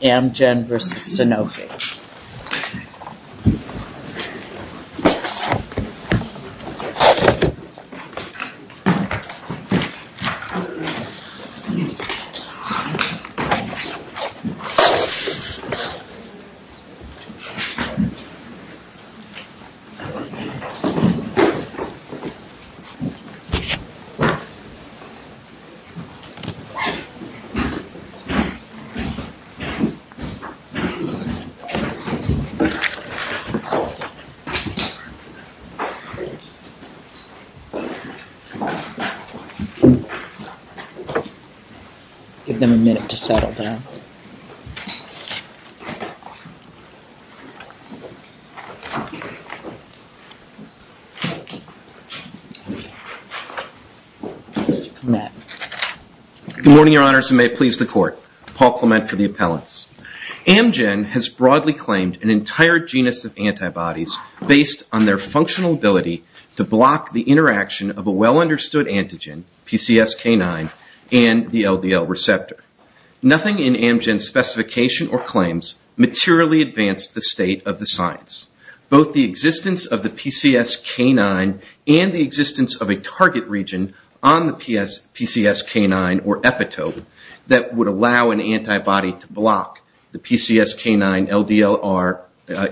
Amgen v. Sanofi Give them a minute to settle down. Good morning, your honors, and may it please the court. Paul Clement for the appellants. Amgen has broadly claimed an entire genus of antibodies based on their functional ability to block the interaction of a well-understood antigen, PCSK9, and the LDL receptor. Nothing in Amgen's specification or claims materially advanced the state of the science. Both the existence of the PCSK9 and the existence of a target region on the PCSK9 or epitope that would allow an antibody to block the PCSK9-LDLR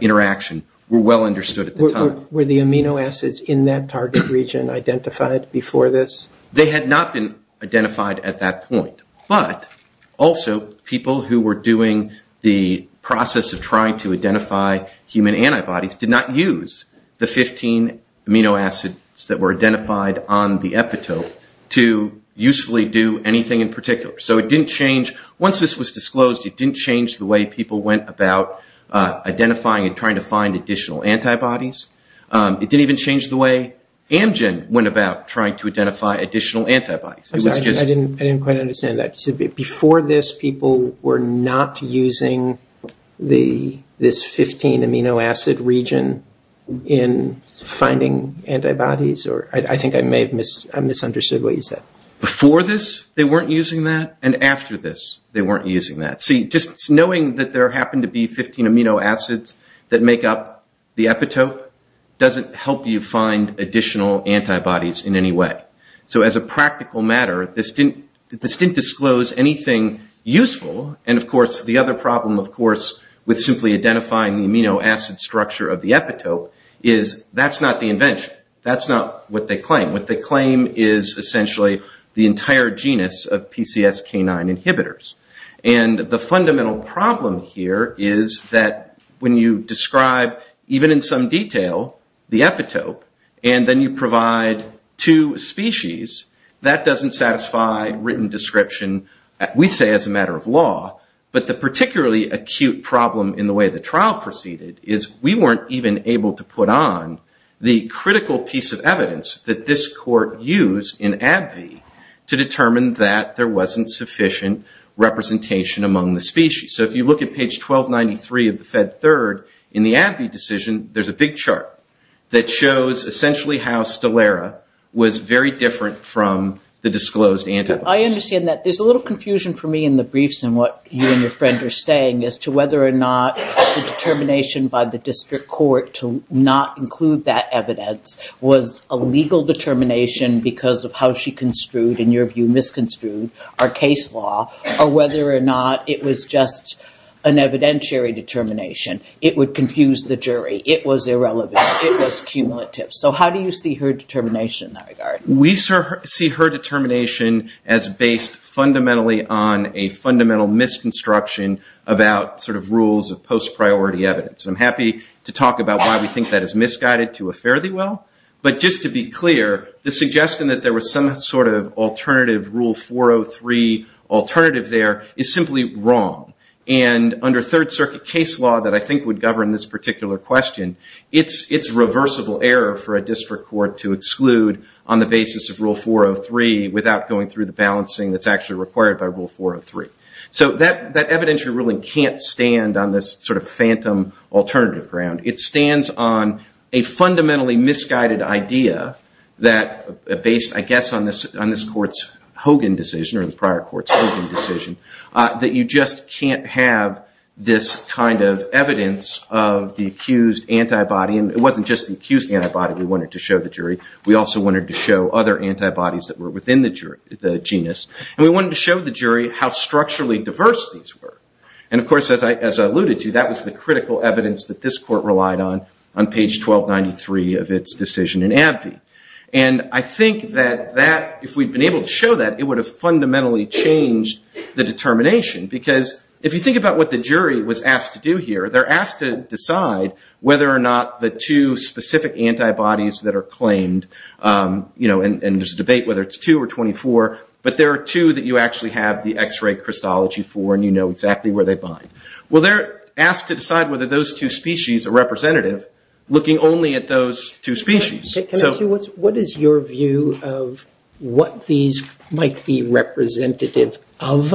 interaction were well understood at the time. Were the amino acids in that target region identified before this? They had not been identified at that point, but also people who were doing the process of trying to identify human antibodies did not use the 15 amino acids that were identified on the epitope to usefully do anything in particular. Once this was disclosed, it didn't change the way people went about identifying and trying to find additional antibodies. It didn't even change the way Amgen went about trying to identify additional antibodies. I didn't quite understand that. Before this, people were not using this 15 amino acid region in finding antibodies? I think I may have misunderstood what you said. Before this, they weren't using that, and after this, they weren't using that. Knowing that there happened to be 15 amino acids that make up the epitope doesn't help you find additional antibodies in any way. As a practical matter, this didn't disclose anything useful. The other problem, of course, with simply identifying the amino acid structure of the epitope is that's not the invention. That's not what they claim. What they claim is essentially the entire genus of PCSK9 inhibitors. The fundamental problem here is that when you describe, even in some detail, the epitope, and then you provide two species, that doesn't satisfy written description, we say as a matter of law, but the particularly acute problem in the way the trial proceeded is we weren't even able to put on the critical piece of evidence that this court used in AbbVie to determine that there wasn't sufficient representation among the species. If you look at page 1293 of the Fed Third, in the AbbVie decision, there's a big chart that shows essentially how Stelera was very different from the disclosed antibodies. I understand that. There's a little confusion for me in the briefs and what you and your friend are saying as to whether or not the determination by the district court to not include that evidence was a legal determination because of how she construed, in your view, misconstrued our case law, or whether or not it was just an evidentiary determination. It would confuse the jury. It was irrelevant. It was cumulative. How do you see her determination in that regard? We see her determination as based fundamentally on a fundamental misconstruction about rules of post-priority evidence. I'm happy to talk about why we think that is misguided to a fairly well, but just to be clear, the suggestion that there was some sort of alternative rule 403 alternative there is simply wrong. Under Third Circuit case law that I think would govern this particular question, it's a reversible error for a district court to exclude on the basis of rule 403 without going through the balancing that's actually required by rule 403. That evidentiary ruling can't stand on this sort of phantom alternative ground. It stands on a fundamentally misguided idea that based, I guess, on this court's Hogan decision or the prior court's Hogan decision, that you just can't have this kind of evidence of the accused antibody. It wasn't just the accused antibody we wanted to show the jury. We also wanted to show other antibodies that were within the genus. We wanted to show the jury how structurally diverse these were. Of course, as I alluded to, that was the critical evidence that this court relied on on page 1293 of its decision in AbbVie. I think that if we'd been able to show that, it would have fundamentally changed the determination because if you think about what the jury was asked to do here, they're asked to decide whether or not the two specific antibodies that are claimed, and there's a debate whether it's 2 or 24, but there are two that you actually have the x-ray crystallogy for and you know exactly where they bind. Well, they're asked to decide whether those two species are representative, looking only at those two species. Can I ask you, what is your view of what these might be representative of?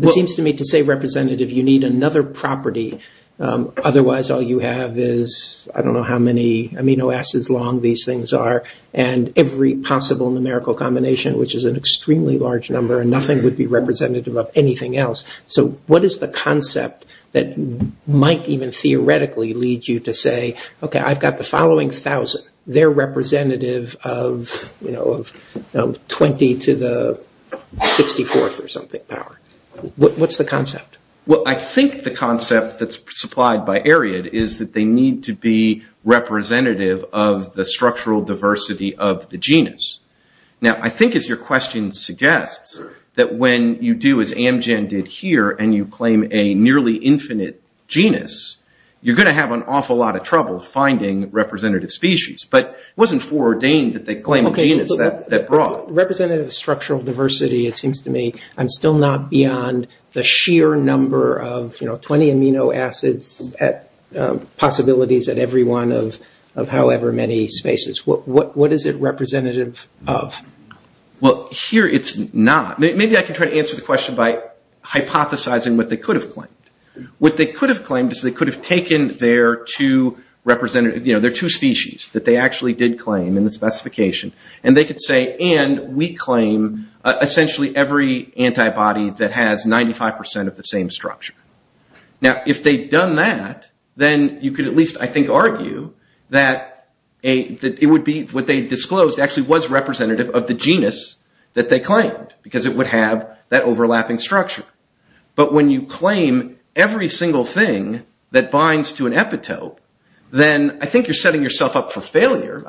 It seems to me to say representative, you need another property. Otherwise, all you have is, I don't know how many amino acids long these things are and every possible numerical combination, which is an extremely large number and nothing would be representative of anything else. What is the concept that might even theoretically lead you to say, okay, I've got the following 1,000, they're representative of 20 to the 64th or something power. What's the concept? Well, I think the concept that's supplied by Ariad is that they need to be representative of the structural diversity of the genus. Now, I think as your question suggests, that when you do as Amgen did here and you claim a nearly infinite genus, you're going to have an awful lot of trouble finding representative species. But it wasn't foreordained that they claim a genus that broad. Representative of structural diversity, it seems to me, I'm still not beyond the sheer number of 20 amino acids at possibilities at every one of however many spaces. What is it representative of? Well, here it's not. Maybe I can try to answer the question by hypothesizing what they could have claimed. What they could have claimed is they could have taken their two species that they actually did claim in the specification and they could say, and we claim essentially every antibody that has 95% of the same structure. Now, if they've done that, then you could at least, I think, argue that it would be what they disclosed actually was representative of the genus that they claimed because it would have that overlapping structure. But when you claim every single thing that binds to an epitope, then I think you're setting yourself up for failure.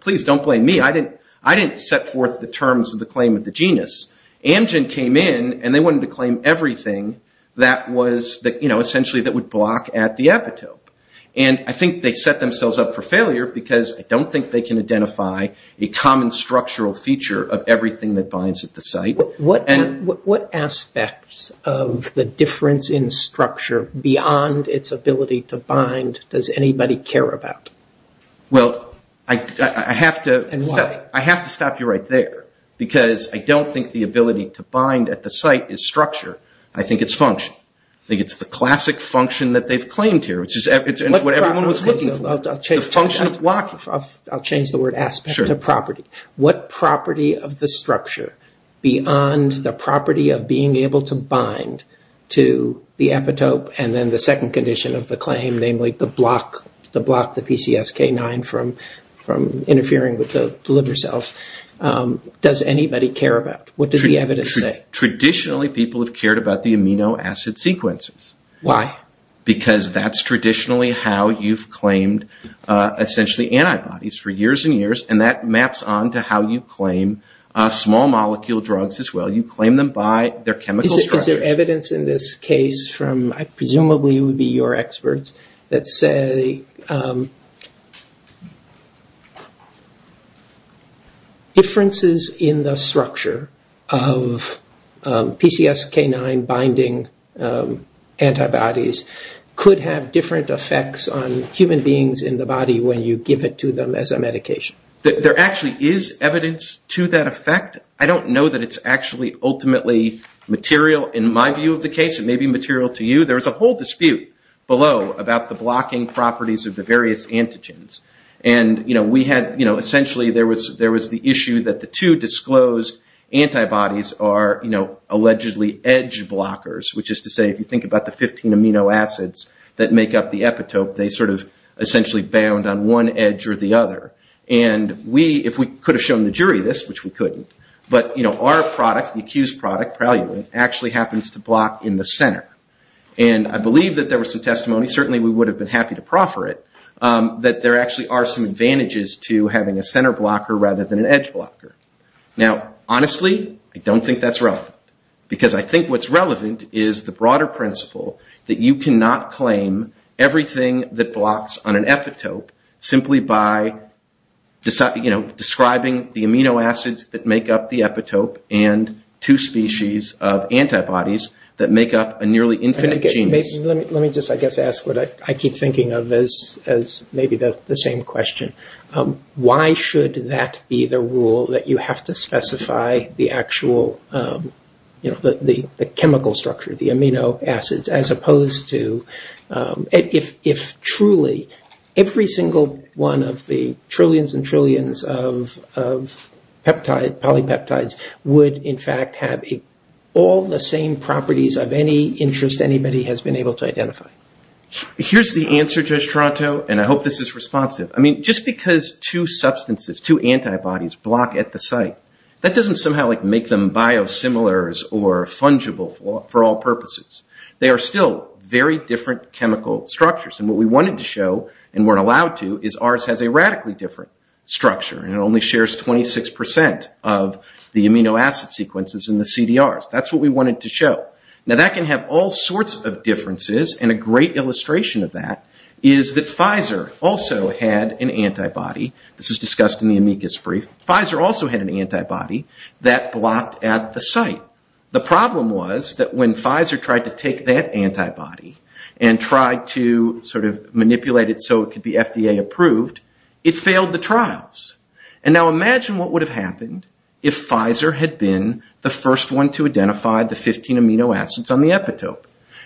Please don't blame me. I didn't set forth the terms of the claim of the genus. Amgen came in and they wanted to claim everything that was essentially that would block at the epitope. I think they set themselves up for failure because I don't think they can identify a common structural feature of everything that binds at the site. What aspects of the difference in structure beyond its ability to bind does anybody care about? Well, I have to stop you right there because I don't think the ability to bind at the site is structure. I think it's function. I think it's the classic function that they've claimed here, which is what everyone was looking for. The function of blocking. I'll change the word aspect to property. What property of the structure beyond the property of being able to bind to the epitope and then the second condition of the claim, namely the block, the PCSK9 from interfering with the liver cells, does anybody care about? What does the evidence say? Traditionally, people have cared about the amino acid sequences. Why? Because that's traditionally how you've claimed essentially antibodies for years and years and that maps on to how you claim small molecule drugs as well. You claim them by their chemical structure. Is there evidence in this case from, presumably it would be your experts, that say differences in the structure of PCSK9 binding antibodies could have different effects on human beings in the body when you give it to them as a medication? There actually is evidence to that effect. I don't know that it's actually ultimately material. In my view of the case, it may be material to you. There's a whole dispute below about the blocking properties of the various antigens. Essentially, there was the issue that the two disclosed antibodies are allegedly edge blockers, which is to say, if you think about the 15 amino acids that make up the epitope, they essentially bound on one edge or the other. If we could have shown the jury this, which we couldn't, but our product, the accused product, Pralulin, actually happens to block in the center. I believe that there was some testimony, certainly we would have been happy to proffer it, that there actually are some advantages to having a center blocker rather than an edge blocker. Honestly, I don't think that's relevant. I think what's relevant is the broader principle that you cannot claim everything that blocks on an epitope simply by describing the amino acids that make up the epitope and two species of antibodies that make up a nearly infinite genus. Let me just, I guess, ask what I keep thinking of as maybe the same question. Why should that be the rule that you have to specify the actual chemical structure, the amino acids, as opposed to if truly every single one of the trillions and trillions of polypeptides would, in fact, have all the same properties of any interest anybody has been able to identify? Here's the answer, Judge Tronto, and I hope this is responsive. Just because two substances, two antibodies, block at the site, that doesn't somehow make them biosimilars or fungible for all purposes. They are still very different chemical structures, and what we wanted to show and weren't allowed to is ours has a radically different structure, and it only shares 26% of the amino acid sequences in the CDRs. That's what we wanted to show. That can have all sorts of differences, and a great illustration of that is that Pfizer also had an antibody. This is discussed in the amicus brief. Pfizer also had an antibody that blocked at the site. The problem was that when Pfizer tried to take that antibody and tried to manipulate it so it could be FDA approved, it failed the trials. Imagine what would have happened if Pfizer had been the first one to identify the 15 amino acids on the epitope?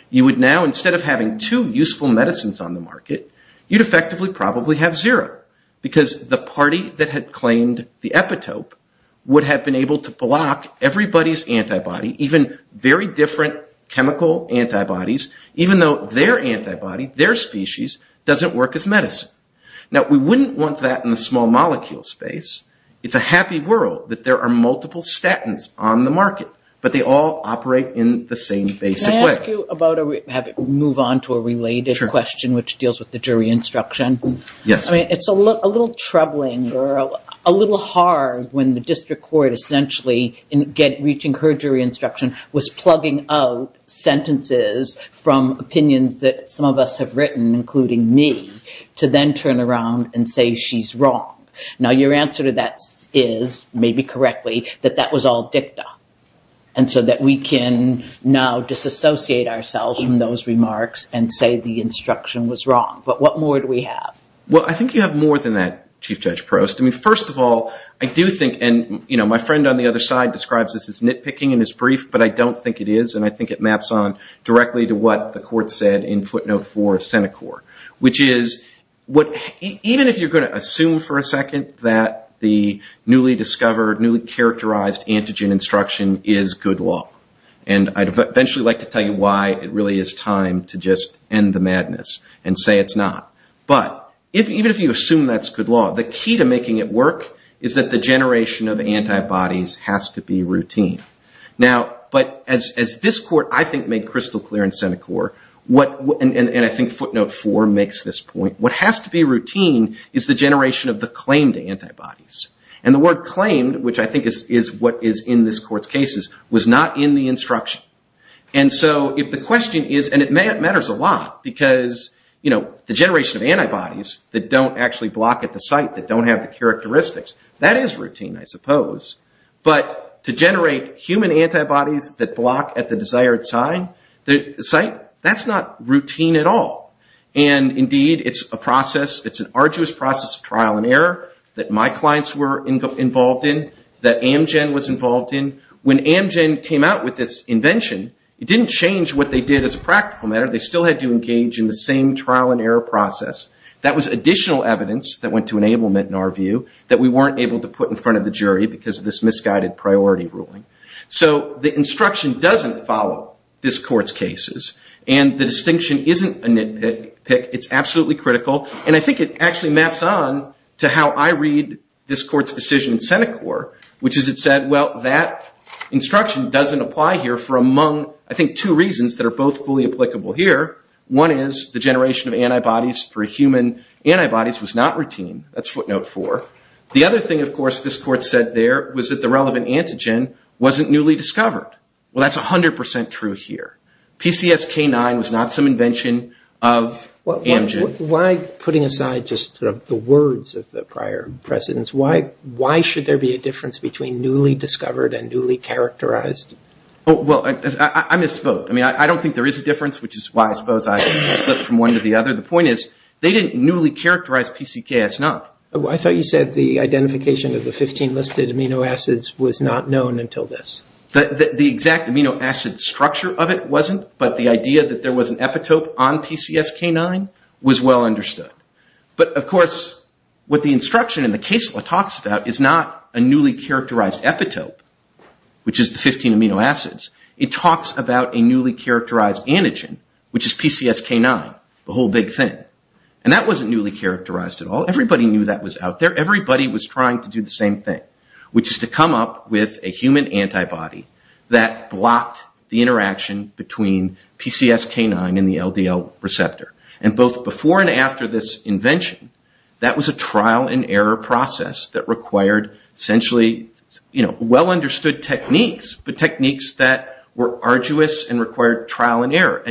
You would now, instead of having two useful medicines on the market, you'd effectively probably have zero, because the party that had claimed the epitope would have been able to block everybody's antibody, even very different chemical antibodies, even though their antibody, their species, doesn't work as medicine. We wouldn't want that in the small molecule space. It's a happy world that there are multiple statins on the market, but they all operate in the same basic way. Can I ask you about, move on to a related question which deals with the jury instruction? Yes. It's a little troubling, a little hard when the district court essentially, in reaching her jury instruction, was plugging out sentences from opinions that some of us have written, including me, to then turn around and say she's wrong. Now, your answer to that is, maybe correctly, that that was all dicta, and so that we can now disassociate ourselves from those remarks and say the instruction was wrong, but what more do we have? Well, I think you have more than that, Chief Judge Prost. First of all, I do think, and my friend on the other side describes this as nitpicking in his brief, but I don't think it is, and I think it maps on directly to what the court said in footnote four of Senecor, which is, even if you're going to assume for a second that the newly discovered, newly characterized antigen instruction is good law, and I'd eventually like to tell you why it really is time to just end the madness and say it's not, but even if you assume that's good law, the key to making it work is that the generation of antibodies has to be routine. Now, but as this court, I think, made crystal clear in Senecor, and I think footnote four makes this point, what has to be routine is the generation of the claimed antibodies, and the word claimed, which I think is what is in this court's cases, was not in the instruction, and so if the question is, and it matters a lot, because the generation of antibodies that don't actually block at the site, that don't have the characteristics, that is routine, I suppose, but to generate human antibodies that block at the desired site, that's not routine at all, and indeed it's a process, it's an arduous process of trial and error that my clients were involved in, that Amgen was involved in. When Amgen came out with this invention, it didn't change what they did as a practical matter, they still had to engage in the same trial and error process. That was additional evidence that went to enablement, in our view, that we weren't able to put in front of the jury because of this misguided priority ruling. So the instruction doesn't follow this court's cases, and the distinction isn't a nitpick, it's absolutely critical, and I think it actually maps on to how I read this court's decision in Senecor, which is it said, well, that instruction doesn't apply here for among, I think, two reasons that are both fully applicable here. One is the generation of antibodies for human antibodies was not routine, that's footnote four. The other thing, of course, this court said there was that the relevant antigen wasn't newly discovered. Well, that's 100% true here. PCSK9 was not some invention of Amgen. Why putting aside just sort of the words of the prior precedents, why should there be a difference between newly discovered and newly characterized? Well, I misspoke, I mean, I don't think there is a difference, which is why I suppose I slipped from one to the other. The point is, they didn't newly characterize PCKS9. I thought you said the identification of the 15 listed amino acids was not known until this. The exact amino acid structure of it wasn't, but the idea that there was an epitope on PCSK9 was well understood. But of course, what the instruction in the case law talks about is not a newly characterized epitope, which is the 15 amino acids. It talks about a newly characterized antigen, which is PCSK9, the whole big thing. That wasn't newly characterized at all. Everybody knew that was out there. Everybody was trying to do the same thing, which is to come up with a human antibody that blocked the interaction between PCSK9 and the LDL receptor. Both before and after this invention, that was a trial and error process that required essentially well understood techniques, but techniques that were arduous and required trial and error.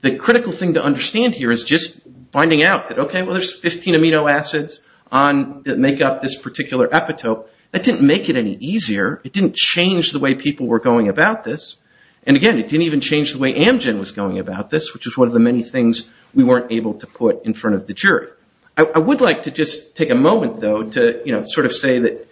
The critical thing to understand here is just finding out that, okay, well there's 15 amino acids that make up this particular epitope. That didn't make it any easier. It didn't change the way people were going about this, and again, it didn't even change the way Amgen was going about this, which was one of the many things we weren't able to put in front of the jury. I would like to just take a moment, though, to sort of say that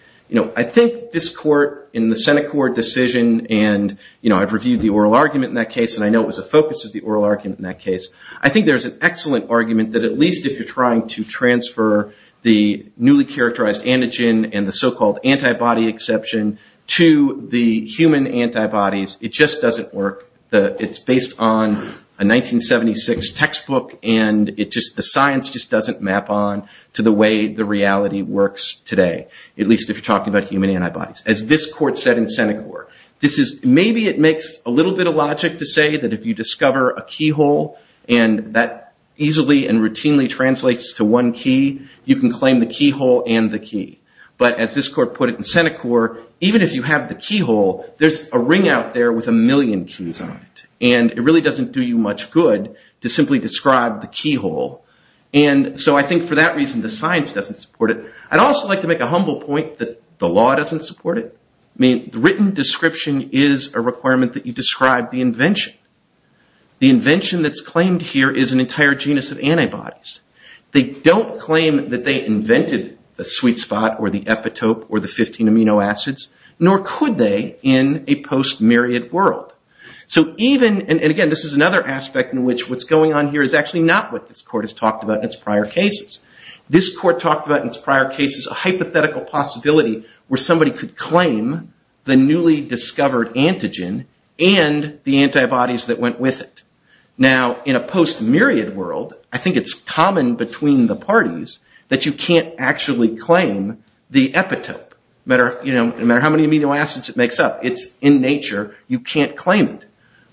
I think this court, in the Senate court decision, and I've reviewed the oral argument in that case, and I know it was a focus of the oral argument in that case, I think there's an excellent argument that at least if you're trying to transfer the newly characterized antigen and the so-called antibody exception to the human antibodies, it just doesn't work. It's based on a 1976 textbook, and the science just doesn't map on to the way the reality works today, at least if you're talking about human antibodies. As this court said in the Senate court, maybe it makes a little bit of logic to say that if you discover a keyhole, and that easily and routinely translates to one key, you can claim the keyhole and the key. But as this court put it in Senate court, even if you have the keyhole, there's a ring out there with a million keys on it, and it really doesn't do you much good to simply describe the keyhole. So I think for that reason, the science doesn't support it. I'd also like to make a humble point that the law doesn't support it. The written description is a requirement that you describe the invention. The invention that's claimed here is an entire genus of antibodies. They don't claim that they invented the sweet spot or the epitope or the 15 amino acids, nor could they in a post-myriad world. So even, and again, this is another aspect in which what's going on here is actually not what this court has talked about in its prior cases. This court talked about in its prior cases a hypothetical possibility where somebody could claim the newly discovered antigen and the antibodies that went with it. Now in a post-myriad world, I think it's common between the parties that you can't actually claim the epitope. No matter how many amino acids it makes up, it's in nature, you can't claim it.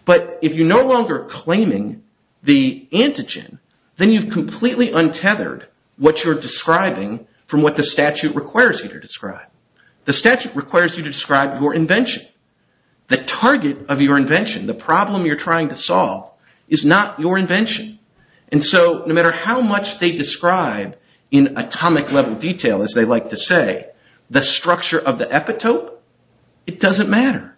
But if you're no longer claiming the antigen, then you've completely untethered what you're describing from what the statute requires you to describe. The statute requires you to describe your invention. The target of your invention, the problem you're trying to solve, is not your invention. And so no matter how much they describe in atomic level detail, as they like to say, the structure of the epitope, it doesn't matter.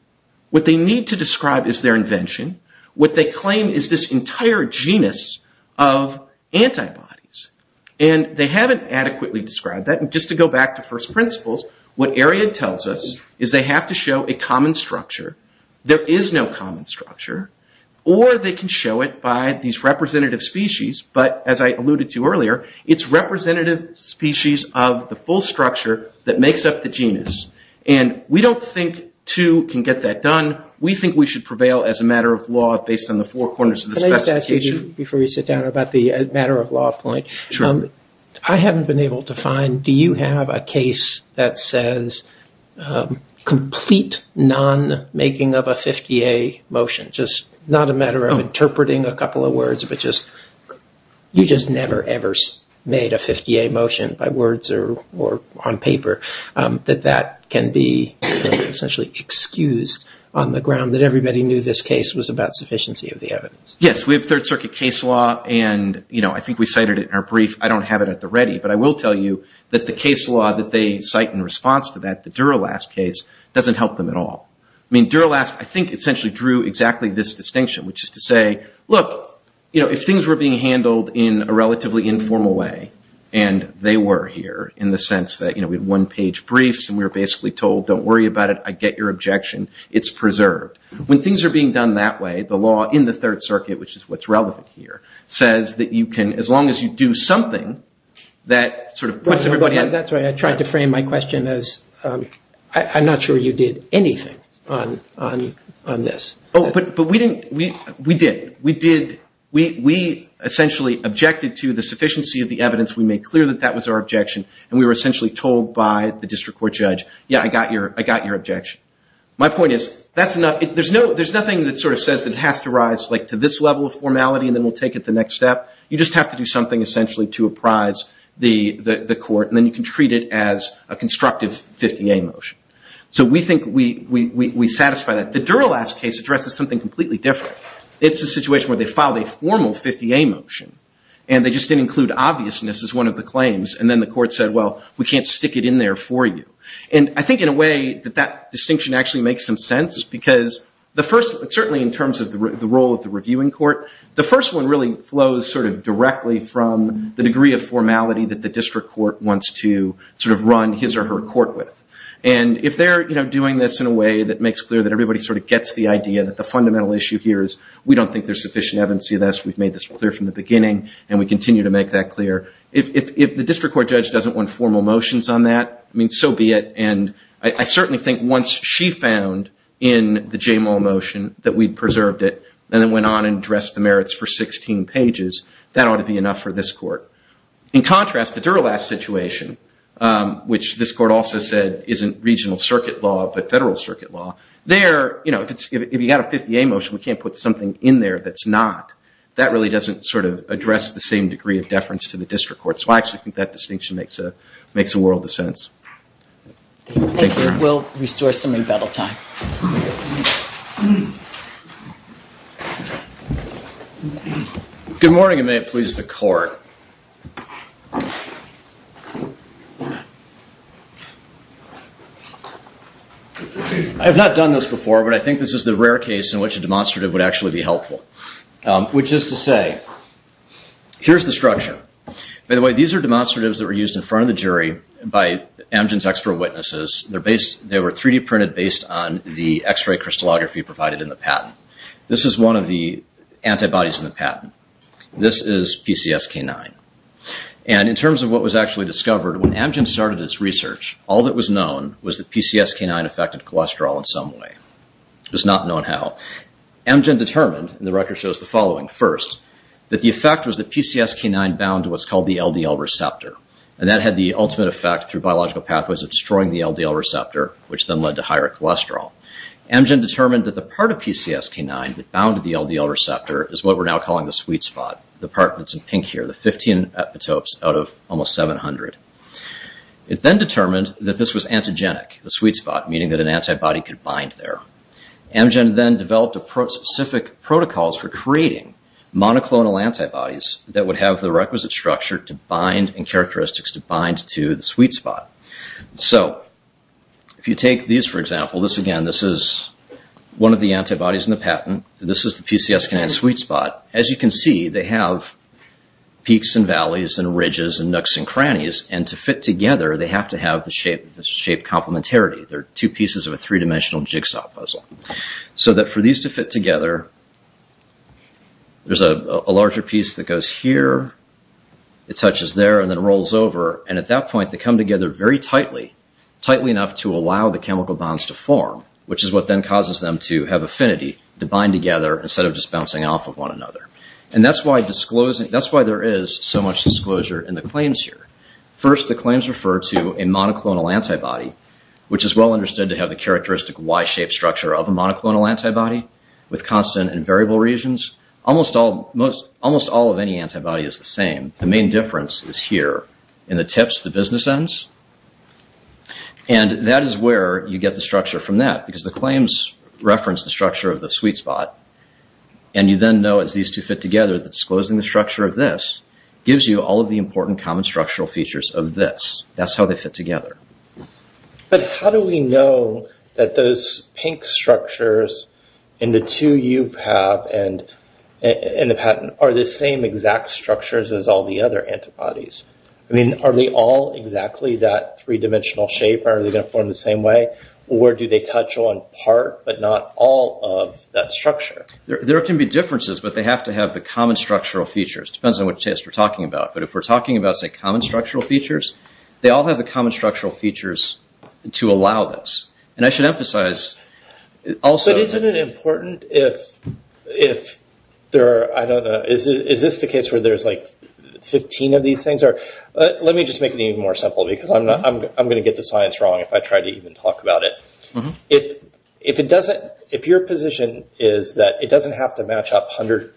What they need to describe is their invention. What they claim is this entire genus of antibodies, and they haven't adequately described that. And just to go back to first principles, what Ariad tells us is they have to show a common structure. There is no common structure, or they can show it by these representative species. But as I alluded to earlier, it's representative species of the full structure that makes up the genus. And we don't think two can get that done. We think we should prevail as a matter of law based on the four corners of the specification. Can I just ask you, before you sit down, about the matter of law point. I haven't been able to find, do you have a case that says complete non-making of a 50A motion? Just not a matter of interpreting a couple of words, but just, you just never ever made a 50A motion by words or on paper. That that can be essentially excused on the ground that everybody knew this case was about sufficiency of the evidence. Yes, we have third circuit case law, and I think we cited it in our brief. I don't have it at the ready, but I will tell you that the case law that they cite in response to that, the Dura-Last case, doesn't help them at all. I mean, Dura-Last, I think, essentially drew exactly this distinction, which is to say, look, if things were being handled in a relatively informal way, and they were here in the sense that, you know, we had one page briefs, and we were basically told, don't worry about it, I get your objection, it's preserved. When things are being done that way, the law in the third circuit, which is what's relevant here, says that you can, as long as you do something, that sort of puts everybody in. That's right. I tried to frame my question as, I'm not sure you did anything on, on, on this. Oh, but, but we didn't, we, we did. We did, we, we essentially objected to the sufficiency of the evidence. We made clear that that was our objection, and we were essentially told by the district court judge, yeah, I got your, I got your objection. My point is, that's enough, there's no, there's nothing that sort of says that it has to rise like to this level of formality, and then we'll take it to the next step. You just have to do something essentially to apprise the, the court, and then you can treat it as a constructive 50A motion. So we think we, we, we satisfy that. The Dura-Last case addresses something completely different. It's a situation where they filed a formal 50A motion, and they just didn't include obviousness as one of the claims, and then the court said, well, we can't stick it in there for you. And I think in a way that that distinction actually makes some sense, is because the first, certainly in terms of the role of the reviewing court, the first one really flows sort of directly from the degree of formality that the district court wants to sort of run his or her court with. And if they're, you know, doing this in a way that makes clear that everybody sort of gets the idea that the fundamental issue here is, we don't think there's sufficient evidence to see this. We've made this clear from the beginning, and we continue to make that clear. If, if, if the district court judge doesn't want formal motions on that, I mean, so be it. And I, I certainly think once she found in the J. Moll motion that we preserved it, and then went on and addressed the merits for 16 pages, that ought to be enough for this court. In contrast, the Dura-Last situation, which this court also said isn't regional circuit law, but federal circuit law, there, you know, if it's, if you got a 50A motion, we can't put something in there that's not. That really doesn't sort of address the same degree of deference to the district court. So I actually think that distinction makes a, makes a world of sense. Thank you. We'll restore some rebuttal time. Good morning, and may it please the court. I have not done this before, but I think this is the rare case in which a demonstrative would actually be helpful. Which is to say, here's the structure. By the way, these are demonstratives that were used in front of the jury by Amgen's expert witnesses. They're based, they were 3D printed based on the x-ray crystallography provided in the patent. This is one of the antibodies in the patent. This is PCSK9. And in terms of what was actually discovered, when Amgen started its research, all that was known was that PCSK9 affected cholesterol in some way. It was not known how. Amgen determined, and the record shows the following, first, that the effect was that PCSK9 bound to what's called the LDL receptor, and that had the ultimate effect through biological pathways of destroying the LDL receptor, which then led to higher cholesterol. Amgen determined that the part of PCSK9 that bounded the LDL receptor is what we're now calling the sweet spot, the part that's in pink here, the 15 epitopes out of almost 700. It then determined that this was antigenic, the sweet spot, meaning that an antibody could bind there. Amgen then developed specific protocols for creating monoclonal antibodies that would have the requisite structure to bind and characteristics to bind to the sweet spot. So if you take these, for example, this again, this is one of the antibodies in the patent. This is the PCSK9 sweet spot. As you can see, they have peaks and valleys and ridges and nooks and crannies, and to fit together, they have to have the shape complementarity. They're two pieces of a three-dimensional jigsaw puzzle. So that for these to fit together, there's a larger piece that goes here, it touches there, and then rolls over, and at that point, they come together very tightly, tightly enough to allow the chemical bonds to form, which is what then causes them to have affinity, to bind together instead of just bouncing off of one another. And that's why there is so much disclosure in the claims here. First, the claims refer to a monoclonal antibody, which is well understood to have the characteristic Y-shaped structure of a monoclonal antibody with constant and variable regions. Almost all of any antibody is the same. The main difference is here in the tips, the business ends, and that is where you get the sweet spot. And you then know, as these two fit together, that disclosing the structure of this gives you all of the important common structural features of this. That's how they fit together. But how do we know that those pink structures in the two you have and have had are the same exact structures as all the other antibodies? I mean, are they all exactly that three-dimensional shape, or are they going to form the same way? Or do they touch on part but not all of that structure? There can be differences, but they have to have the common structural features. It depends on which test we're talking about. But if we're talking about, say, common structural features, they all have the common structural features to allow this. And I should emphasize also that... But isn't it important if there are, I don't know, is this the case where there's like 15 of these things? Let me just make it even more simple because I'm going to get the science wrong if I try to even talk about it. If your position is that it doesn't have to match up 100%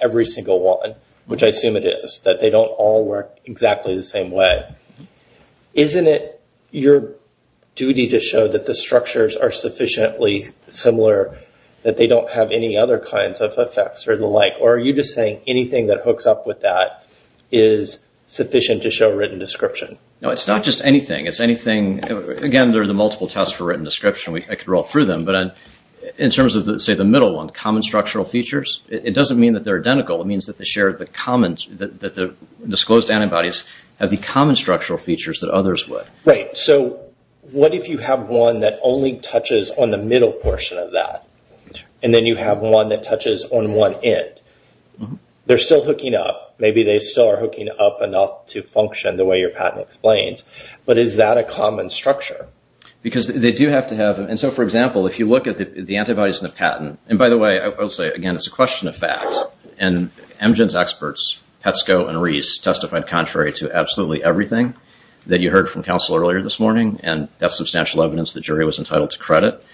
every single one, which I assume it is, that they don't all work exactly the same way, isn't it your duty to show that the structures are sufficiently similar that they don't have any other kinds of effects or the like? Or are you just saying anything that hooks up with that is sufficient to show written description? No, it's not just anything. It's anything... Again, there are the multiple tests for written description. I could roll through them. But in terms of, say, the middle one, common structural features, it doesn't mean that they're identical. It means that the disclosed antibodies have the common structural features that others would. Right. So what if you have one that only touches on the middle portion of that? And then you have one that touches on one end? They're still hooking up. Maybe they still are hooking up enough to function the way your patent explains. But is that a common structure? Because they do have to have... And so, for example, if you look at the antibodies in the patent... And by the way, I will say, again, it's a question of fact. And Emgen's experts, Petsco and Reese, testified contrary to absolutely everything that you heard from counsel earlier this morning. And that's substantial evidence the jury was entitled to credit.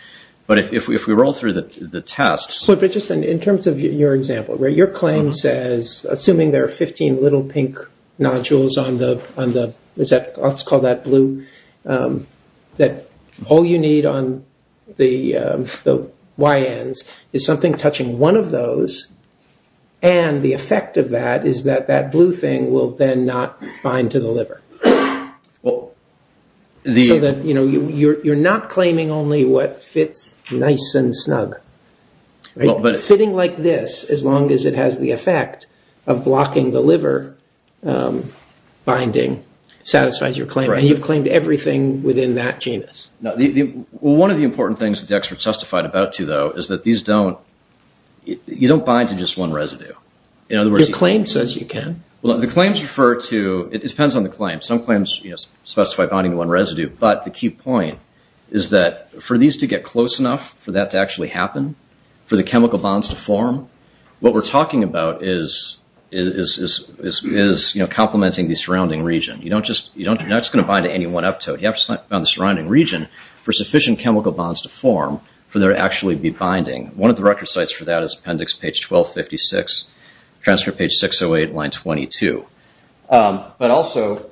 But if we roll through the tests... In terms of your example, where your claim says, assuming there are 15 little pink nodules on the... Let's call that blue. That all you need on the Y ends is something touching one of those. And the effect of that is that that blue thing will then not bind to the liver. So that you're not claiming only what fits nice and snug. Fitting like this, as long as it has the effect of blocking the liver binding, satisfies your claim. And you've claimed everything within that genus. One of the important things that the experts testified about, too, though, is that these don't... You don't bind to just one residue. Your claim says you can. Well, the claims refer to... Some claims specify binding to one residue. But the key point is that for these to get close enough for that to actually happen, for the chemical bonds to form, what we're talking about is complementing the surrounding region. You're not just going to bind to any one uptote. You have to bind to the surrounding region for sufficient chemical bonds to form for there to actually be binding. One of the record sites for that is appendix page 1256, transcript page 608, line 22. But also...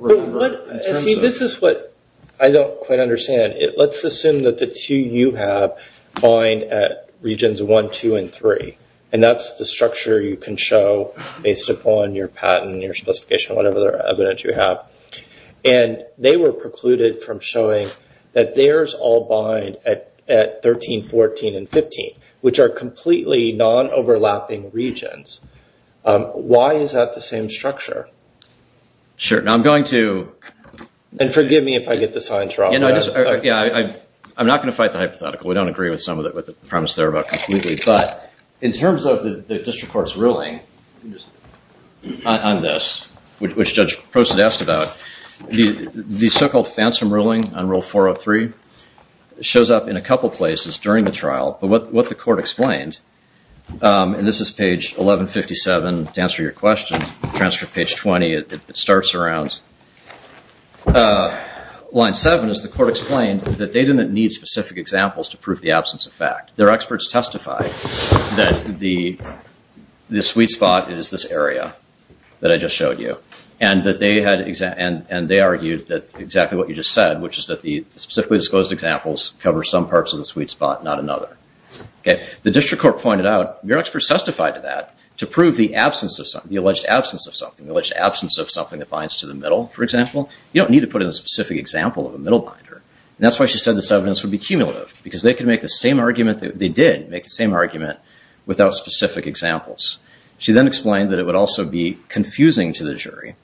See, this is what I don't quite understand. Let's assume that the two you have bind at regions one, two, and three. And that's the structure you can show based upon your patent, your specification, whatever evidence you have. And they were precluded from showing that theirs all bind at 13, 14, and 15, which are completely non-overlapping regions. Why is that the same structure? Sure. Now, I'm going to... And forgive me if I get the science wrong. I'm not going to fight the hypothetical. We don't agree with some of the premise there about completely. But in terms of the district court's ruling on this, which Judge Prost had asked about, the so-called phantom ruling on rule 403 shows up in a couple places during the trial. But what the court explained, and this is page 1157 to answer your question, transcript page 20, it starts around line seven, is the court explained that they didn't need specific examples to prove the absence of fact. Their experts testified that the sweet spot is this area that I just showed you. And they argued that exactly what you just said, which is that the specifically disclosed examples cover some parts of the sweet spot, not another. The district court pointed out, your experts testified to that, to prove the alleged absence of something, the alleged absence of something that binds to the middle, for example. You don't need to put in a specific example of a middle binder. And that's why she said this evidence would be cumulative, because they could make the same argument, they did make the same argument, without specific examples. She then explained that it would also be confusing to the jury,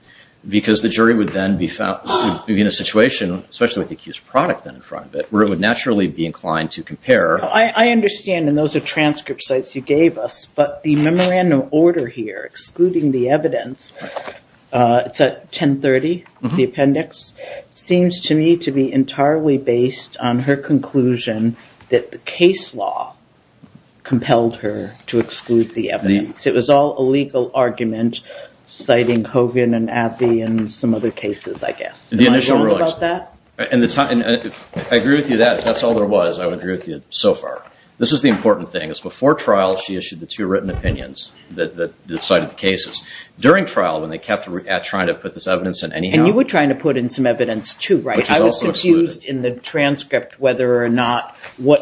because the jury would then be in a situation, especially with the accused product then in front of it, where it would naturally be inclined to compare. I understand, and those are transcript sites you gave us, but the memorandum order here, excluding the evidence, it's at 1030, the appendix, seems to me to be entirely based on her conclusion that the case law compelled her to exclude the evidence. It was all a legal argument, citing Hogan and Abbey and some other cases, I guess. The initial rulings. Am I wrong about that? And I agree with you that, if that's all there was, I would agree with you so far. This is the important thing. Before trial, she issued the two written opinions that cited the cases. During trial, when they kept trying to put this evidence in anyhow. And you were trying to put in some evidence, too, right? I was confused in the transcript whether or not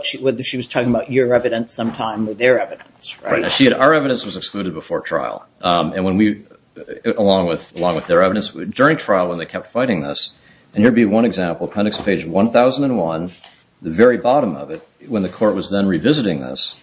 she was talking about your evidence sometime or their evidence, right? Our evidence was excluded before trial, along with their evidence. During trial, when they kept fighting this, and here would be one example, appendix page 1001, the very bottom of it, when the court was then revisiting this,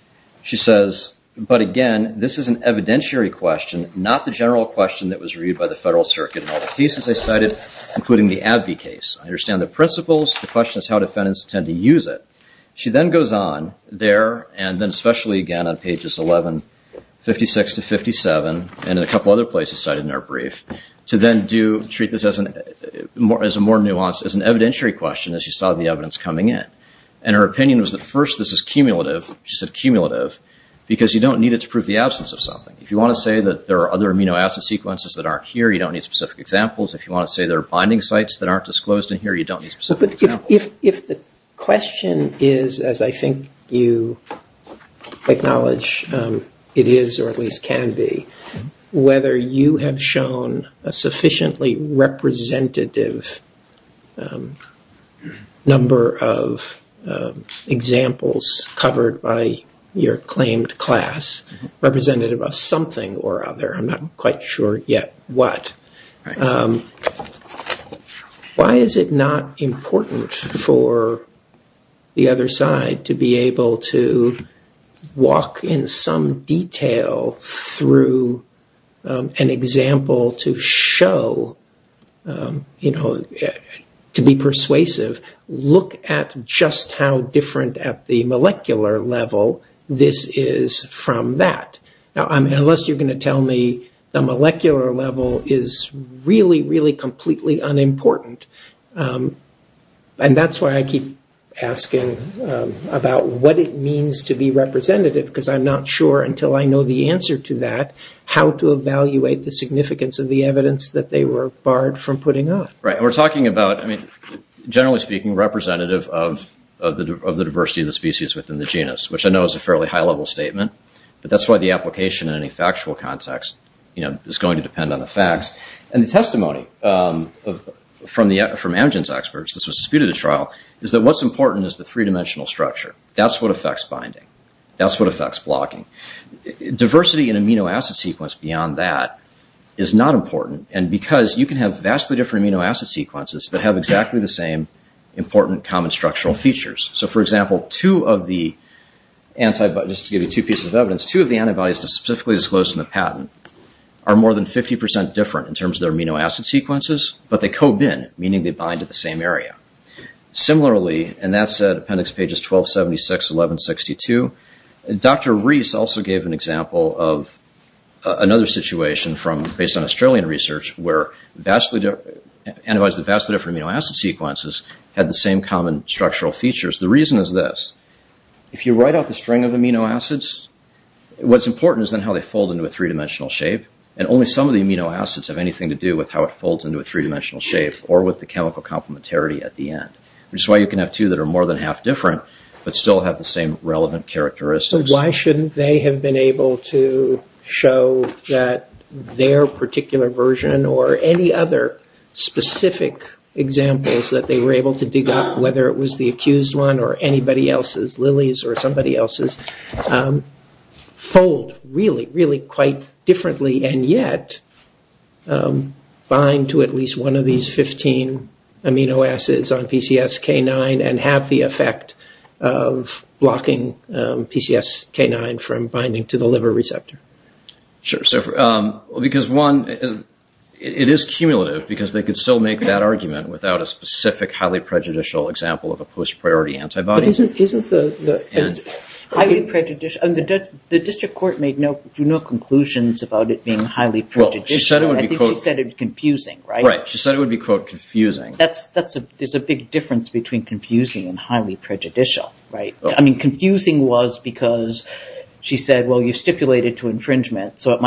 she says, but again, this is an evidentiary question, not the general question that was reviewed by the Federal Circuit in all the cases they cited, including the Abbey case. I understand the principles. The question is how defendants tend to use it. She then goes on there, and then especially again on pages 11, 56 to 57, and in a couple other places cited in her brief, to then treat this as a more nuanced, as an evidentiary question as you saw the evidence coming in. And her opinion was that first this is cumulative, she said cumulative, because you don't need it to prove the absence of something. If you want to say that there are other amino acid sequences that aren't here, you don't need specific examples. If you want to say there are bonding sites that aren't disclosed in here, you don't need specific examples. But if the question is, as I think you acknowledge it is, or at least can be, whether you have shown a sufficiently representative number of examples covered by your claimed class, representative of something or other, I'm not quite sure yet what, why is it not important for the other side to be able to walk in some detail through an example to show, to be persuasive, look at just how different at the molecular level this is from that. Now, unless you're going to tell me the molecular level is really, really completely unimportant, and that's why I keep asking about what it means to be representative, because I'm not sure until I know the answer to that, how to evaluate the significance of the evidence that they were barred from putting up. Right, and we're talking about, generally speaking, representative of the diversity of the species within the genus, which I know is a fairly high-level statement, but that's why the application in any factual context is going to depend on the facts. And the testimony from Amgen's experts, this was disputed at trial, is that what's important is the three-dimensional structure. That's what affects binding. That's what affects blocking. Diversity in amino acid sequence beyond that is not important, and because you can have vastly different amino acid sequences that have exactly the same important common structural features. So for example, two of the antibodies, just to give you two pieces of evidence, two of the antibodies that are specifically disclosed in the patent are more than 50% different in terms of their amino acid sequences, but they co-bind, meaning they bind at the same area. Similarly, and that's at appendix pages 1276, 1162, Dr. Rees also gave an example of another situation based on Australian research, where antibodies with vastly different amino acid sequences had the same common structural features. The reason is this. If you write out the string of amino acids, what's important is then how they fold into a three-dimensional shape, and only some of the amino acids have anything to do with how it folds into a three-dimensional shape or with the chemical complementarity at the end. Which is why you can have two that are more than half different, but still have the same relevant characteristics. Why shouldn't they have been able to show that their particular version or any other specific examples that they were able to dig up, whether it was the accused one or anybody else's, Lilly's or somebody else's, fold really, really quite differently and yet bind to at least one of these 15 amino acids on PCSK9 and have the effect of blocking PCSK9 from binding to the liver receptor? Sure. Because one, it is cumulative, because they could still make that argument without a specific highly prejudicial example of a post-priority antibody. The district court made no conclusions about it being highly prejudicial. I think she said it was confusing, right? Right. She said it would be, quote, confusing. There's a big difference between confusing and highly prejudicial. I mean, confusing was because she said, well, you stipulated to infringement, so it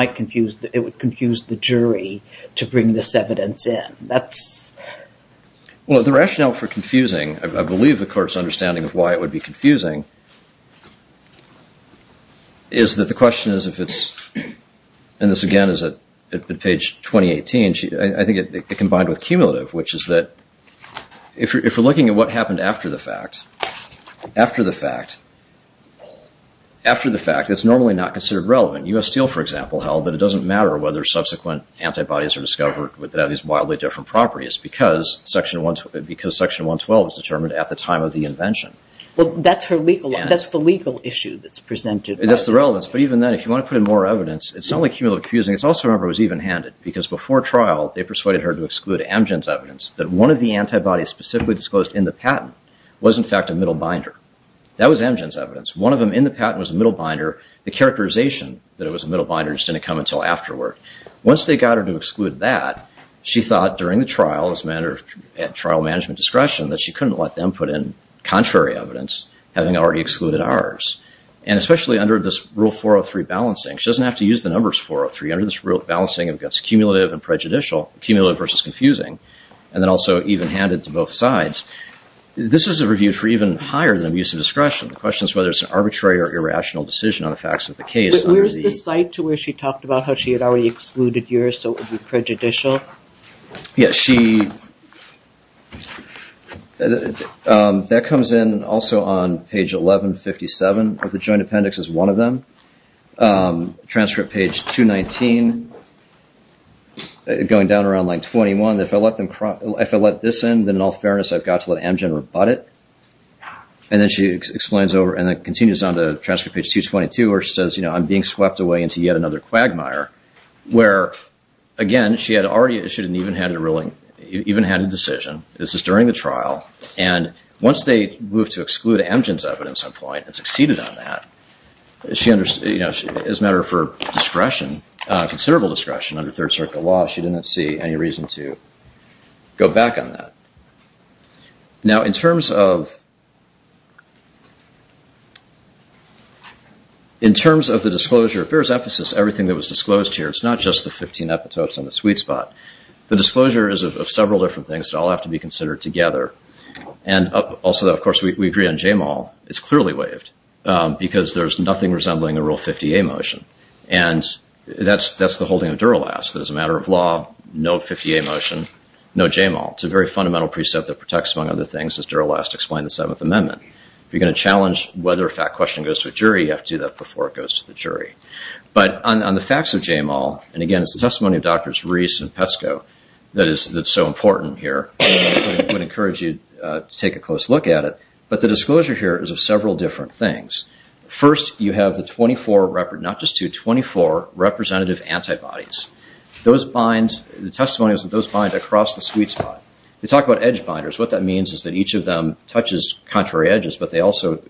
would confuse the jury to bring this evidence in. Well, the rationale for confusing, I believe the court's understanding of why it would be confusing, is that the question is if it's, and this again is at page 2018, I think it combined with cumulative, which is that if you're looking at what happened after the fact, after the fact, after the fact, it's normally not considered relevant. U.S. Steel, for example, held that it doesn't matter whether subsequent antibodies are discovered without these wildly different properties because Section 112 was determined at the time of the invention. Well, that's her legal, that's the legal issue that's presented. That's the relevance. But even then, if you want to put in more evidence, it's not only cumulative confusing, it's also, remember, it was even-handed because before trial, they persuaded her to exclude Amgen's evidence that one of the antibodies specifically disclosed in the patent was in fact a middle binder. That was Amgen's evidence. One of them in the patent was a middle binder, the characterization that it was a middle binder just didn't come until afterward. Once they got her to exclude that, she thought during the trial, as a matter of trial management discretion, that she couldn't let them put in contrary evidence, having already excluded ours. And especially under this Rule 403 balancing, she doesn't have to use the numbers 403 under this balancing against cumulative and prejudicial, cumulative versus confusing, and then also even-handed to both sides. This is a review for even higher than abuse of discretion. The question is whether it's an arbitrary or irrational decision on the facts of the case under the- Where's the site to where she talked about how she had already excluded yours so it would be prejudicial? Yeah, she- that comes in also on page 1157 of the Joint Appendix as one of them, transcript page 219, going down around line 21, if I let them- if I let this in, then in all fairness I've got to let Amgen rebut it. And then she explains over and then continues on to transcript page 222 where she says, you know, I'm being swept away into yet another quagmire, where, again, she had already issued an even-handed ruling, even-handed decision. This is during the trial. And once they moved to exclude Amgen's evidence at one point and succeeded on that, she understood, as a matter for discretion, considerable discretion under Third Circuit law, she didn't see any reason to go back on that. Now in terms of- in terms of the disclosure, if there is emphasis, everything that was disclosed here, it's not just the 15 epitopes on the sweet spot. The disclosure is of several different things that all have to be considered together. And also, of course, we agree on Jamal. It's clearly waived because there's nothing resembling a Rule 50A motion. And that's the holding of Duralast, that as a matter of law, no 50A motion, no Jamal. It's a very fundamental precept that protects, among other things, as Duralast explained in the Seventh Amendment. If you're going to challenge whether a fact question goes to a jury, you have to do that before it goes to the jury. But on the facts of Jamal, and again, it's the testimony of Drs. Reese and Pesco that is- that's so important here, I would encourage you to take a close look at it. But the disclosure here is of several different things. First, you have the 24 rep- not just two, 24 representative antibodies. Those bind- the testimony is that those bind across the sweet spot. They talk about edge binders. What that means is that each of them touches contrary edges, but they also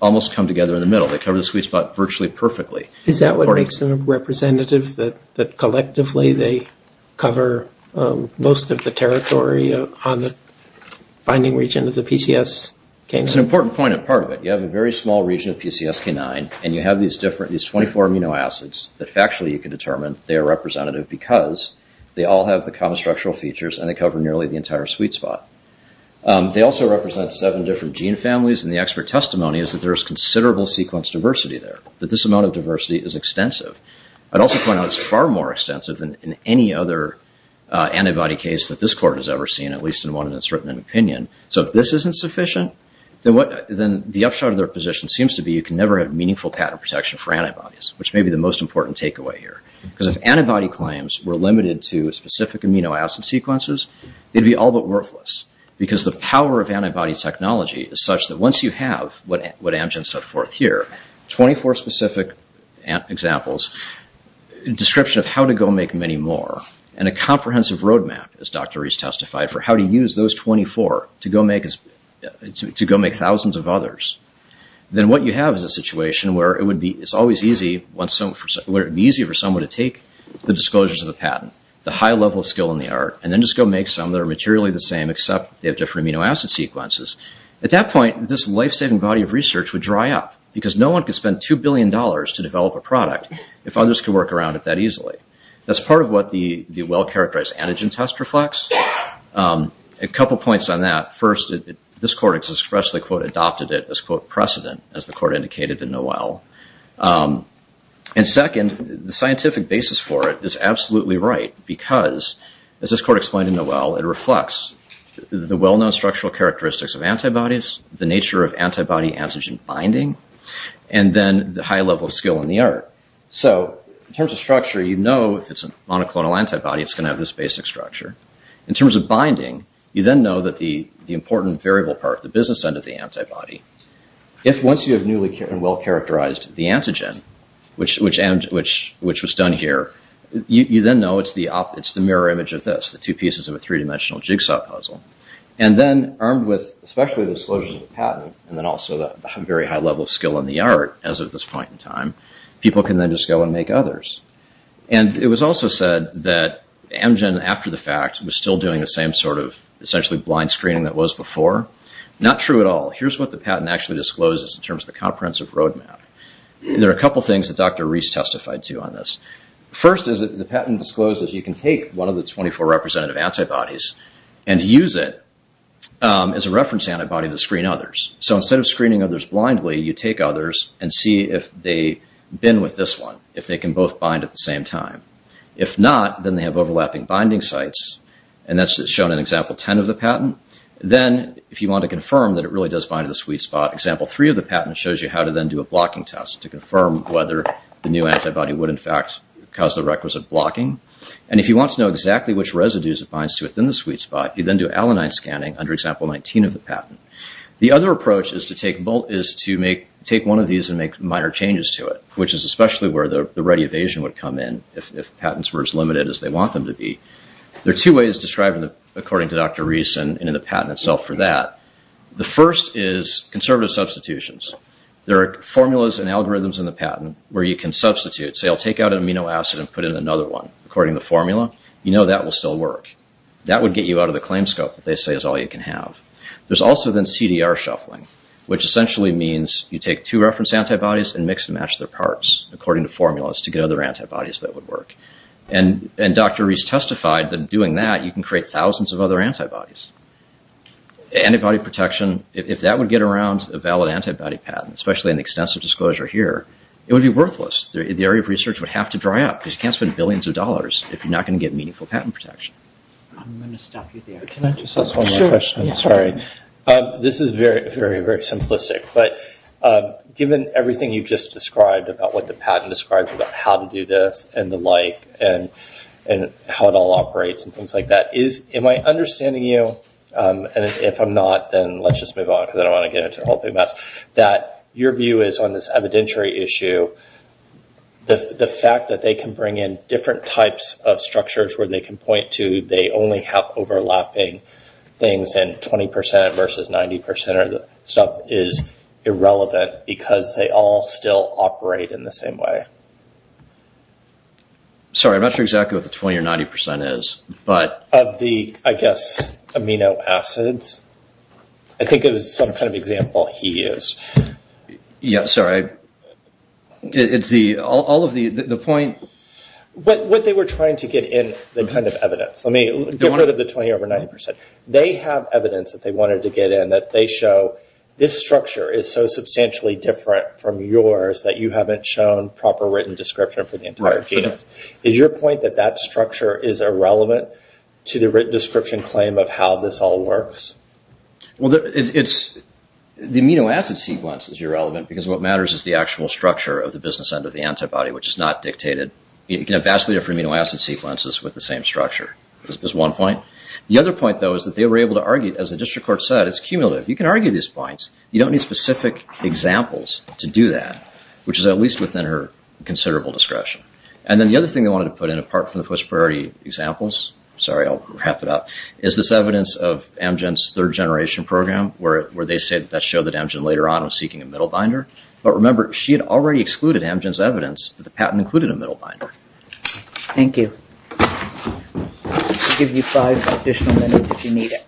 almost come together in the middle. They cover the sweet spot virtually perfectly. Is that what makes them representative, that collectively they cover most of the territory on the binding region of the PCSK9? It's an important point, and part of it. You have a very small region of PCSK9, and you have these different- these 24 amino acids that factually you can determine they are representative because they all have the common structural features, and they cover nearly the entire sweet spot. They also represent seven different gene families, and the expert testimony is that there is considerable sequence diversity there, that this amount of diversity is extensive. I'd also point out it's far more extensive than any other antibody case that this Court has ever seen, at least in one that's written in opinion. So if this isn't sufficient, then what- then the upshot of their position seems to be you can never have meaningful pattern protection for antibodies, which may be the most important takeaway here. Because if antibody claims were limited to specific amino acid sequences, it'd be all but worthless, because the power of antibody technology is such that once you have what Amgen set forth here, 24 specific examples, a description of how to go make many more, and a comprehensive roadmap, as Dr. Reese testified, for how to use those 24 to go make thousands of others, then what you have is a situation where it would be- it's always easy once some- where it would be easy for someone to take the disclosures of the patent, the high level skill in the art, and then just go make some that are materially the same except they have different amino acid sequences. At that point, this life-saving body of research would dry up, because no one could spend two billion dollars to develop a product if others could work around it that easily. That's part of what the well-characterized antigen test reflects. A couple points on that. First, this court expressly, quote, adopted it as, quote, precedent, as the court indicated in Noel. And second, the scientific basis for it is absolutely right, because, as this court explained in Noel, it reflects the well-known structural characteristics of antibodies, the nature of antibody-antigen binding, and then the high level of skill in the art. So, in terms of structure, you know if it's a monoclonal antibody, it's going to have this basic structure. In terms of binding, you then know that the important variable part, the business end of the antibody, if once you have newly and well-characterized the antigen, which was done here, you then know it's the mirror image of this, the two pieces of a three-dimensional jigsaw puzzle. And then, armed with, especially the disclosures of the patent, and then also the very high level of skill in the art, as of this point in time, people can then just go and make others. And it was also said that Amgen, after the fact, was still doing the same sort of essentially blind screening that was before. Not true at all. Here's what the patent actually discloses in terms of the comprehensive roadmap. There are a couple things that Dr. Reese testified to on this. First is that the patent discloses you can take one of the 24 representative antibodies and use it as a reference antibody to screen others. So instead of screening others blindly, you take others and see if they bin with this one, if they can both bind at the same time. If not, then they have overlapping binding sites, and that's shown in example 10 of the patent. Then, if you want to confirm that it really does bind to the sweet spot, example 3 of the patent shows you how to then do a blocking test to confirm whether the new antibody would, in fact, cause the requisite blocking. And if you want to know exactly which residues it binds to within the sweet spot, you then do alanine scanning under example 19 of the patent. The other approach is to take one of these and make minor changes to it, which is especially where the ready evasion would come in if patents were as limited as they want them to be. There are two ways described according to Dr. Reese and in the patent itself for that. The first is conservative substitutions. There are formulas and algorithms in the patent where you can substitute, say, I'll take out an amino acid and put in another one. According to the formula, you know that will still work. That would get you out of the claim scope that they say is all you can have. There's also then CDR shuffling, which essentially means you take two reference antibodies and mix and match their parts according to formulas to get other antibodies that would work. And Dr. Reese testified that doing that, you can create thousands of other antibodies. Antibody protection, if that would get around a valid antibody patent, especially an extensive disclosure here, it would be worthless. The area of research would have to dry up because you can't spend billions of dollars if you're not going to get meaningful patent protection. I'm going to stop you there. Can I just ask one more question? Sure. I'm sorry. This is very, very, very simplistic, but given everything you've just described about what the patent describes about how to do this and the like and how it all operates and things like that, am I understanding you, and if I'm not, then let's just move on because I don't want to get into the whole big mess, that your view is on this evidentiary issue, the fact that they can bring in different types of structures where they can point to they only have overlapping things and 20% versus 90% of the stuff is irrelevant because they all still operate in the same way. Sorry, I'm not sure exactly what the 20 or 90% is, but- Of the, I guess, amino acids. I think it was some kind of example he used. Yeah, sorry. It's the, all of the, the point- What they were trying to get in, the kind of evidence. Let me get rid of the 20 over 90%. They have evidence that they wanted to get in that they show this structure is so substantially different from yours that you haven't shown proper written description for the entire genus. Is your point that that structure is irrelevant to the written description claim of how this all works? Well, it's, the amino acid sequence is irrelevant because what matters is the actual structure of the business end of the antibody, which is not dictated. You can have vastly different amino acid sequences with the same structure, is one point. The other point, though, is that they were able to argue, as the district court said, it's cumulative. You can argue these points. You don't need specific examples to do that, which is at least within her considerable discretion. And then the other thing they wanted to put in, apart from the post-priority examples, sorry, I'll wrap it up, is this evidence of Amgen's third generation program where they said that showed that Amgen later on was seeking a middle binder. But remember, she had already excluded Amgen's evidence that the patent included a middle binder. Thank you. I'll give you five additional minutes if you need it.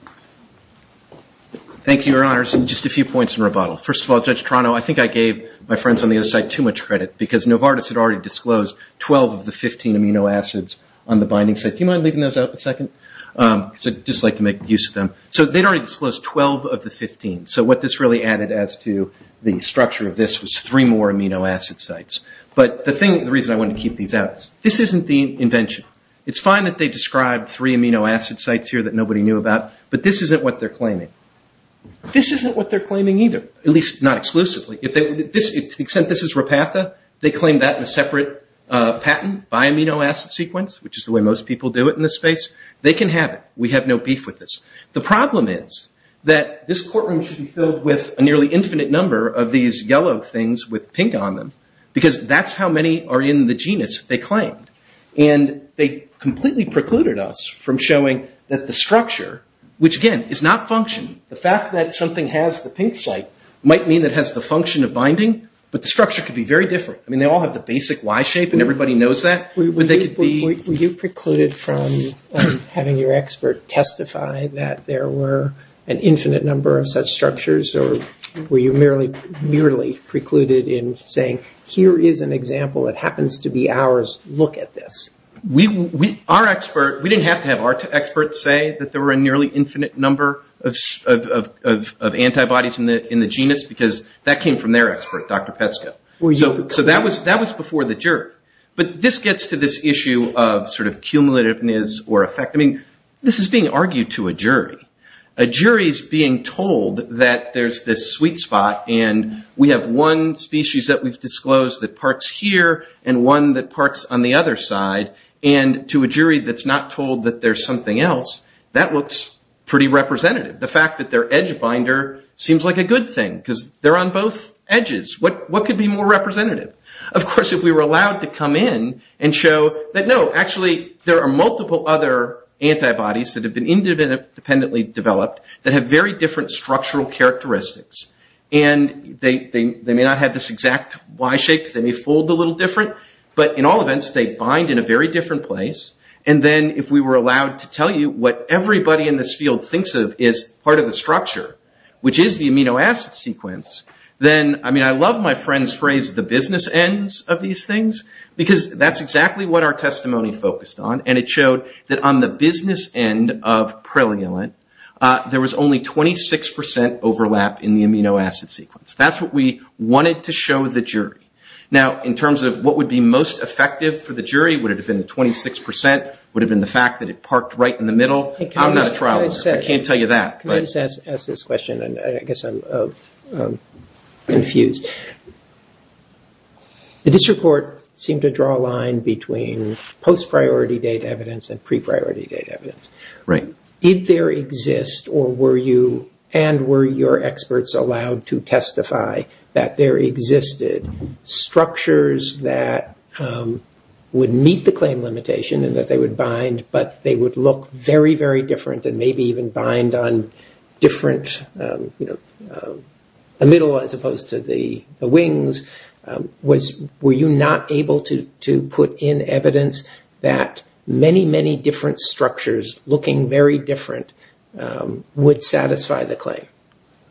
Thank you, Your Honors. Just a few points in rebuttal. First of all, Judge Toronto, I think I gave my friends on the other side too much credit because Novartis had already disclosed 12 of the 15 amino acids on the binding site. If you mind leaving those out for a second, because I'd just like to make use of them. So they'd already disclosed 12 of the 15. So what this really added as to the structure of this was three more amino acid sites. But the reason I wanted to keep these out is this isn't the invention. It's fine that they described three amino acid sites here that nobody knew about, but this isn't what they're claiming. This isn't what they're claiming either, at least not exclusively. To the extent this is Repatha, they claim that in a separate patent by amino acid sequence, which is the way most people do it in this space, they can have it. We have no beef with this. The problem is that this courtroom should be filled with a nearly infinite number of these yellow things with pink on them, because that's how many are in the genus they claim. And they completely precluded us from showing that the structure, which again is not functioning. The fact that something has the pink site might mean it has the function of binding, but the structure could be very different. I mean, they all have the basic Y shape and everybody knows that. Were you precluded from having your expert testify that there were an infinite number of such structures, or were you merely precluded in saying, here is an example that happens to be ours, look at this? Our expert, we didn't have to have our expert say that there were a nearly infinite number of antibodies in the genus, because that came from their expert, Dr. Petsko. So that was before the jury. But this gets to this issue of sort of cumulativeness or effect. I mean, this is being argued to a jury. A jury is being told that there's this sweet spot and we have one species that we've disclosed that parks here and one that parks on the other side, and to a jury that's not told that there's something else, that looks pretty representative. The fact that they're edge binder seems like a good thing, because they're on both edges. What could be more representative? Of course, if we were allowed to come in and show that, no, actually there are multiple other antibodies that have been independently developed that have very different structural characteristics. And they may not have this exact Y shape, because they may fold a little different, but in all events, they bind in a very different place. And then if we were allowed to tell you what everybody in this field thinks of is part of the structure, which is the amino acid sequence, then, I mean, I love my friend's phrase, the business ends of these things, because that's exactly what our testimony focused on. And it showed that on the business end of prelulant, there was only 26% overlap in the amino acid sequence. That's what we wanted to show the jury. Now, in terms of what would be most effective for the jury, would it have been 26%? Would it have been the fact that it parked right in the middle? I'm not a trial lawyer. I can't tell you that. Can I just ask this question? I guess I'm confused. The district court seemed to draw a line between post-priority date evidence and pre-priority date evidence. Did there exist, and were your experts allowed to testify, that there existed structures that would meet the claim limitation, and that they would bind, but they would look very, very different, and maybe even bind on different, the middle as opposed to the wings? Were you not able to put in evidence that many, many different structures, looking very different, would satisfy the claim?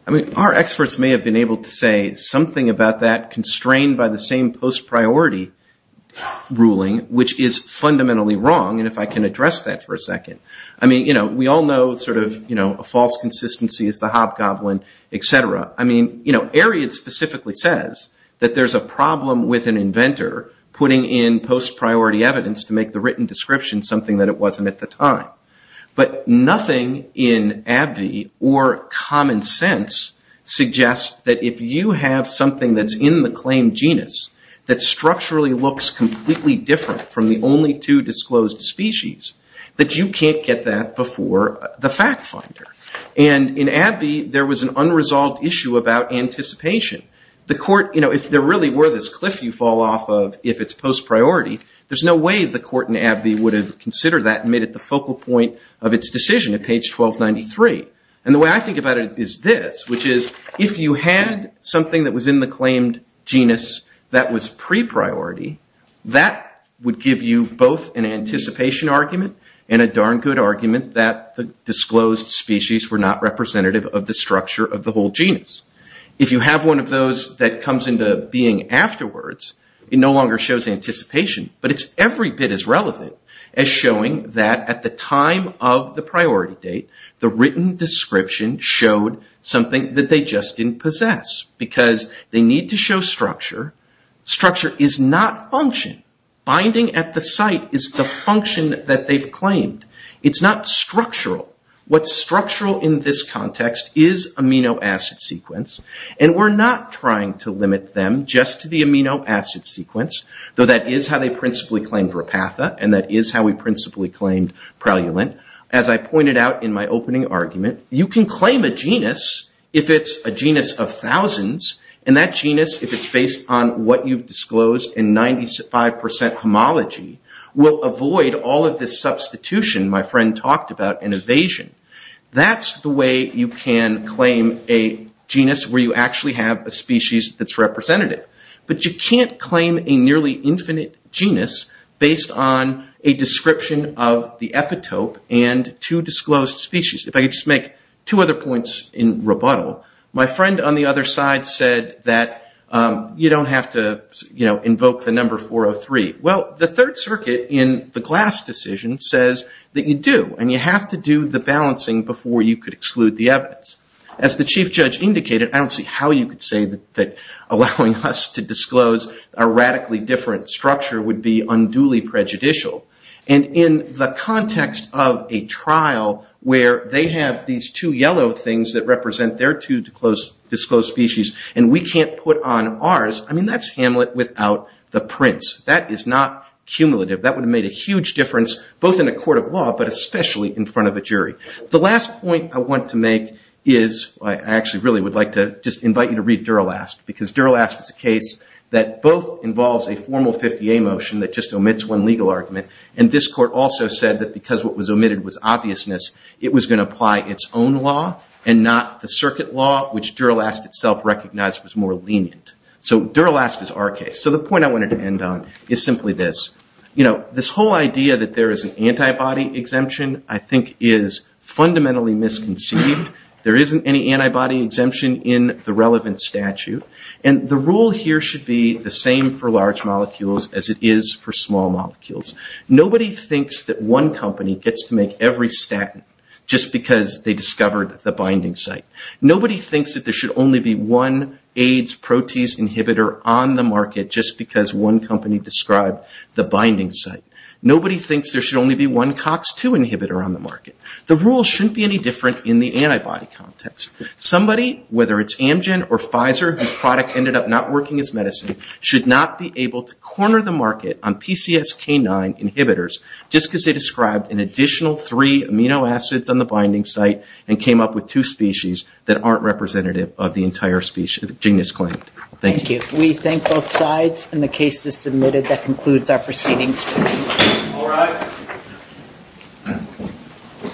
I mean, our experts may have been able to say something about that, constrained by the same post-priority ruling, which is fundamentally wrong, and if I can address that for a second. I mean, we all know a false consistency is the hobgoblin, etc. I mean, Ariad specifically says that there's a problem with an inventor putting in post-priority evidence to make the written description something that it wasn't at the time. But nothing in AbbVie or common sense suggests that if you have something that's in the claim genus, that structurally looks completely different from the only two disclosed species, that you can't get that before the fact finder. And in AbbVie, there was an unresolved issue about anticipation. The court, you know, if there really were this cliff you fall off of, if it's post-priority, there's no way the court in AbbVie would have considered that and made it the focal point of its decision at page 1293. And the way I think about it is this, which is if you had something that was in the claimed genus that was pre-priority, that would give you both an anticipation argument and a darn good argument that the disclosed species were not representative of the structure of the whole genus. If you have one of those that comes into being afterwards, it no longer shows anticipation, but it's every bit as relevant as showing that at the time of the priority date, the written description showed something that they just didn't possess, because they need to show structure. Structure is not function. Binding at the site is the function that they've claimed. It's not structural. What's structural in this context is amino acid sequence, and we're not trying to limit them just to the amino acid sequence, though that is how they principally claimed Repatha, and that is how we principally claimed Preleulent. As I pointed out in my opening argument, you can claim a genus if it's a genus of thousands, and that genus, if it's based on what you've disclosed in 95% homology, will avoid all of this substitution my friend talked about in evasion. That's the way you can claim a genus where you actually have a species that's representative, but you can't claim a nearly infinite genus based on a description of the epitope and two disclosed species. If I could just make two other points in rebuttal. My friend on the other side said that you don't have to invoke the number 403. Well, the Third Circuit in the Glass decision says that you do, and you have to do the balancing before you could exclude the evidence. As the Chief Judge indicated, I don't see how you could say that allowing us to disclose a radically different structure would be unduly prejudicial. In the context of a trial where they have these two yellow things that represent their two disclosed species and we can't put on ours, that's Hamlet without the prince. That is not cumulative. That would have made a huge difference both in a court of law, but especially in front of a jury. The last point I want to make is, I actually really would like to just invite you to read Duralast, because Duralast is a case that both involves a formal 50A motion that just omits one legal argument, and this court also said that because what was omitted was obviousness, it was going to apply its own law and not the circuit law, which Duralast itself recognized was more lenient. So Duralast is our case. So the point I wanted to end on is simply this. This whole idea that there is an antibody exemption I think is fundamentally misconceived. There isn't any antibody exemption in the relevant statute, and the rule here should be the same for large molecules as it is for small molecules. Nobody thinks that one company gets to make every statin just because they discovered the binding site. Nobody thinks that there should only be one AIDS protease inhibitor on the market just because one company described the binding site. Nobody thinks there should only be one COX-2 inhibitor on the market. The rule shouldn't be any different in the antibody context. Somebody, whether it's Amgen or Pfizer, whose product ended up not working as medicine, should not be able to corner the market on PCSK9 inhibitors just because they described an additional three amino acids on the binding site and came up with two species that aren't representative of the entire genus claimed. Thank you. We thank both sides, and the case is submitted. That concludes our proceedings. All rise.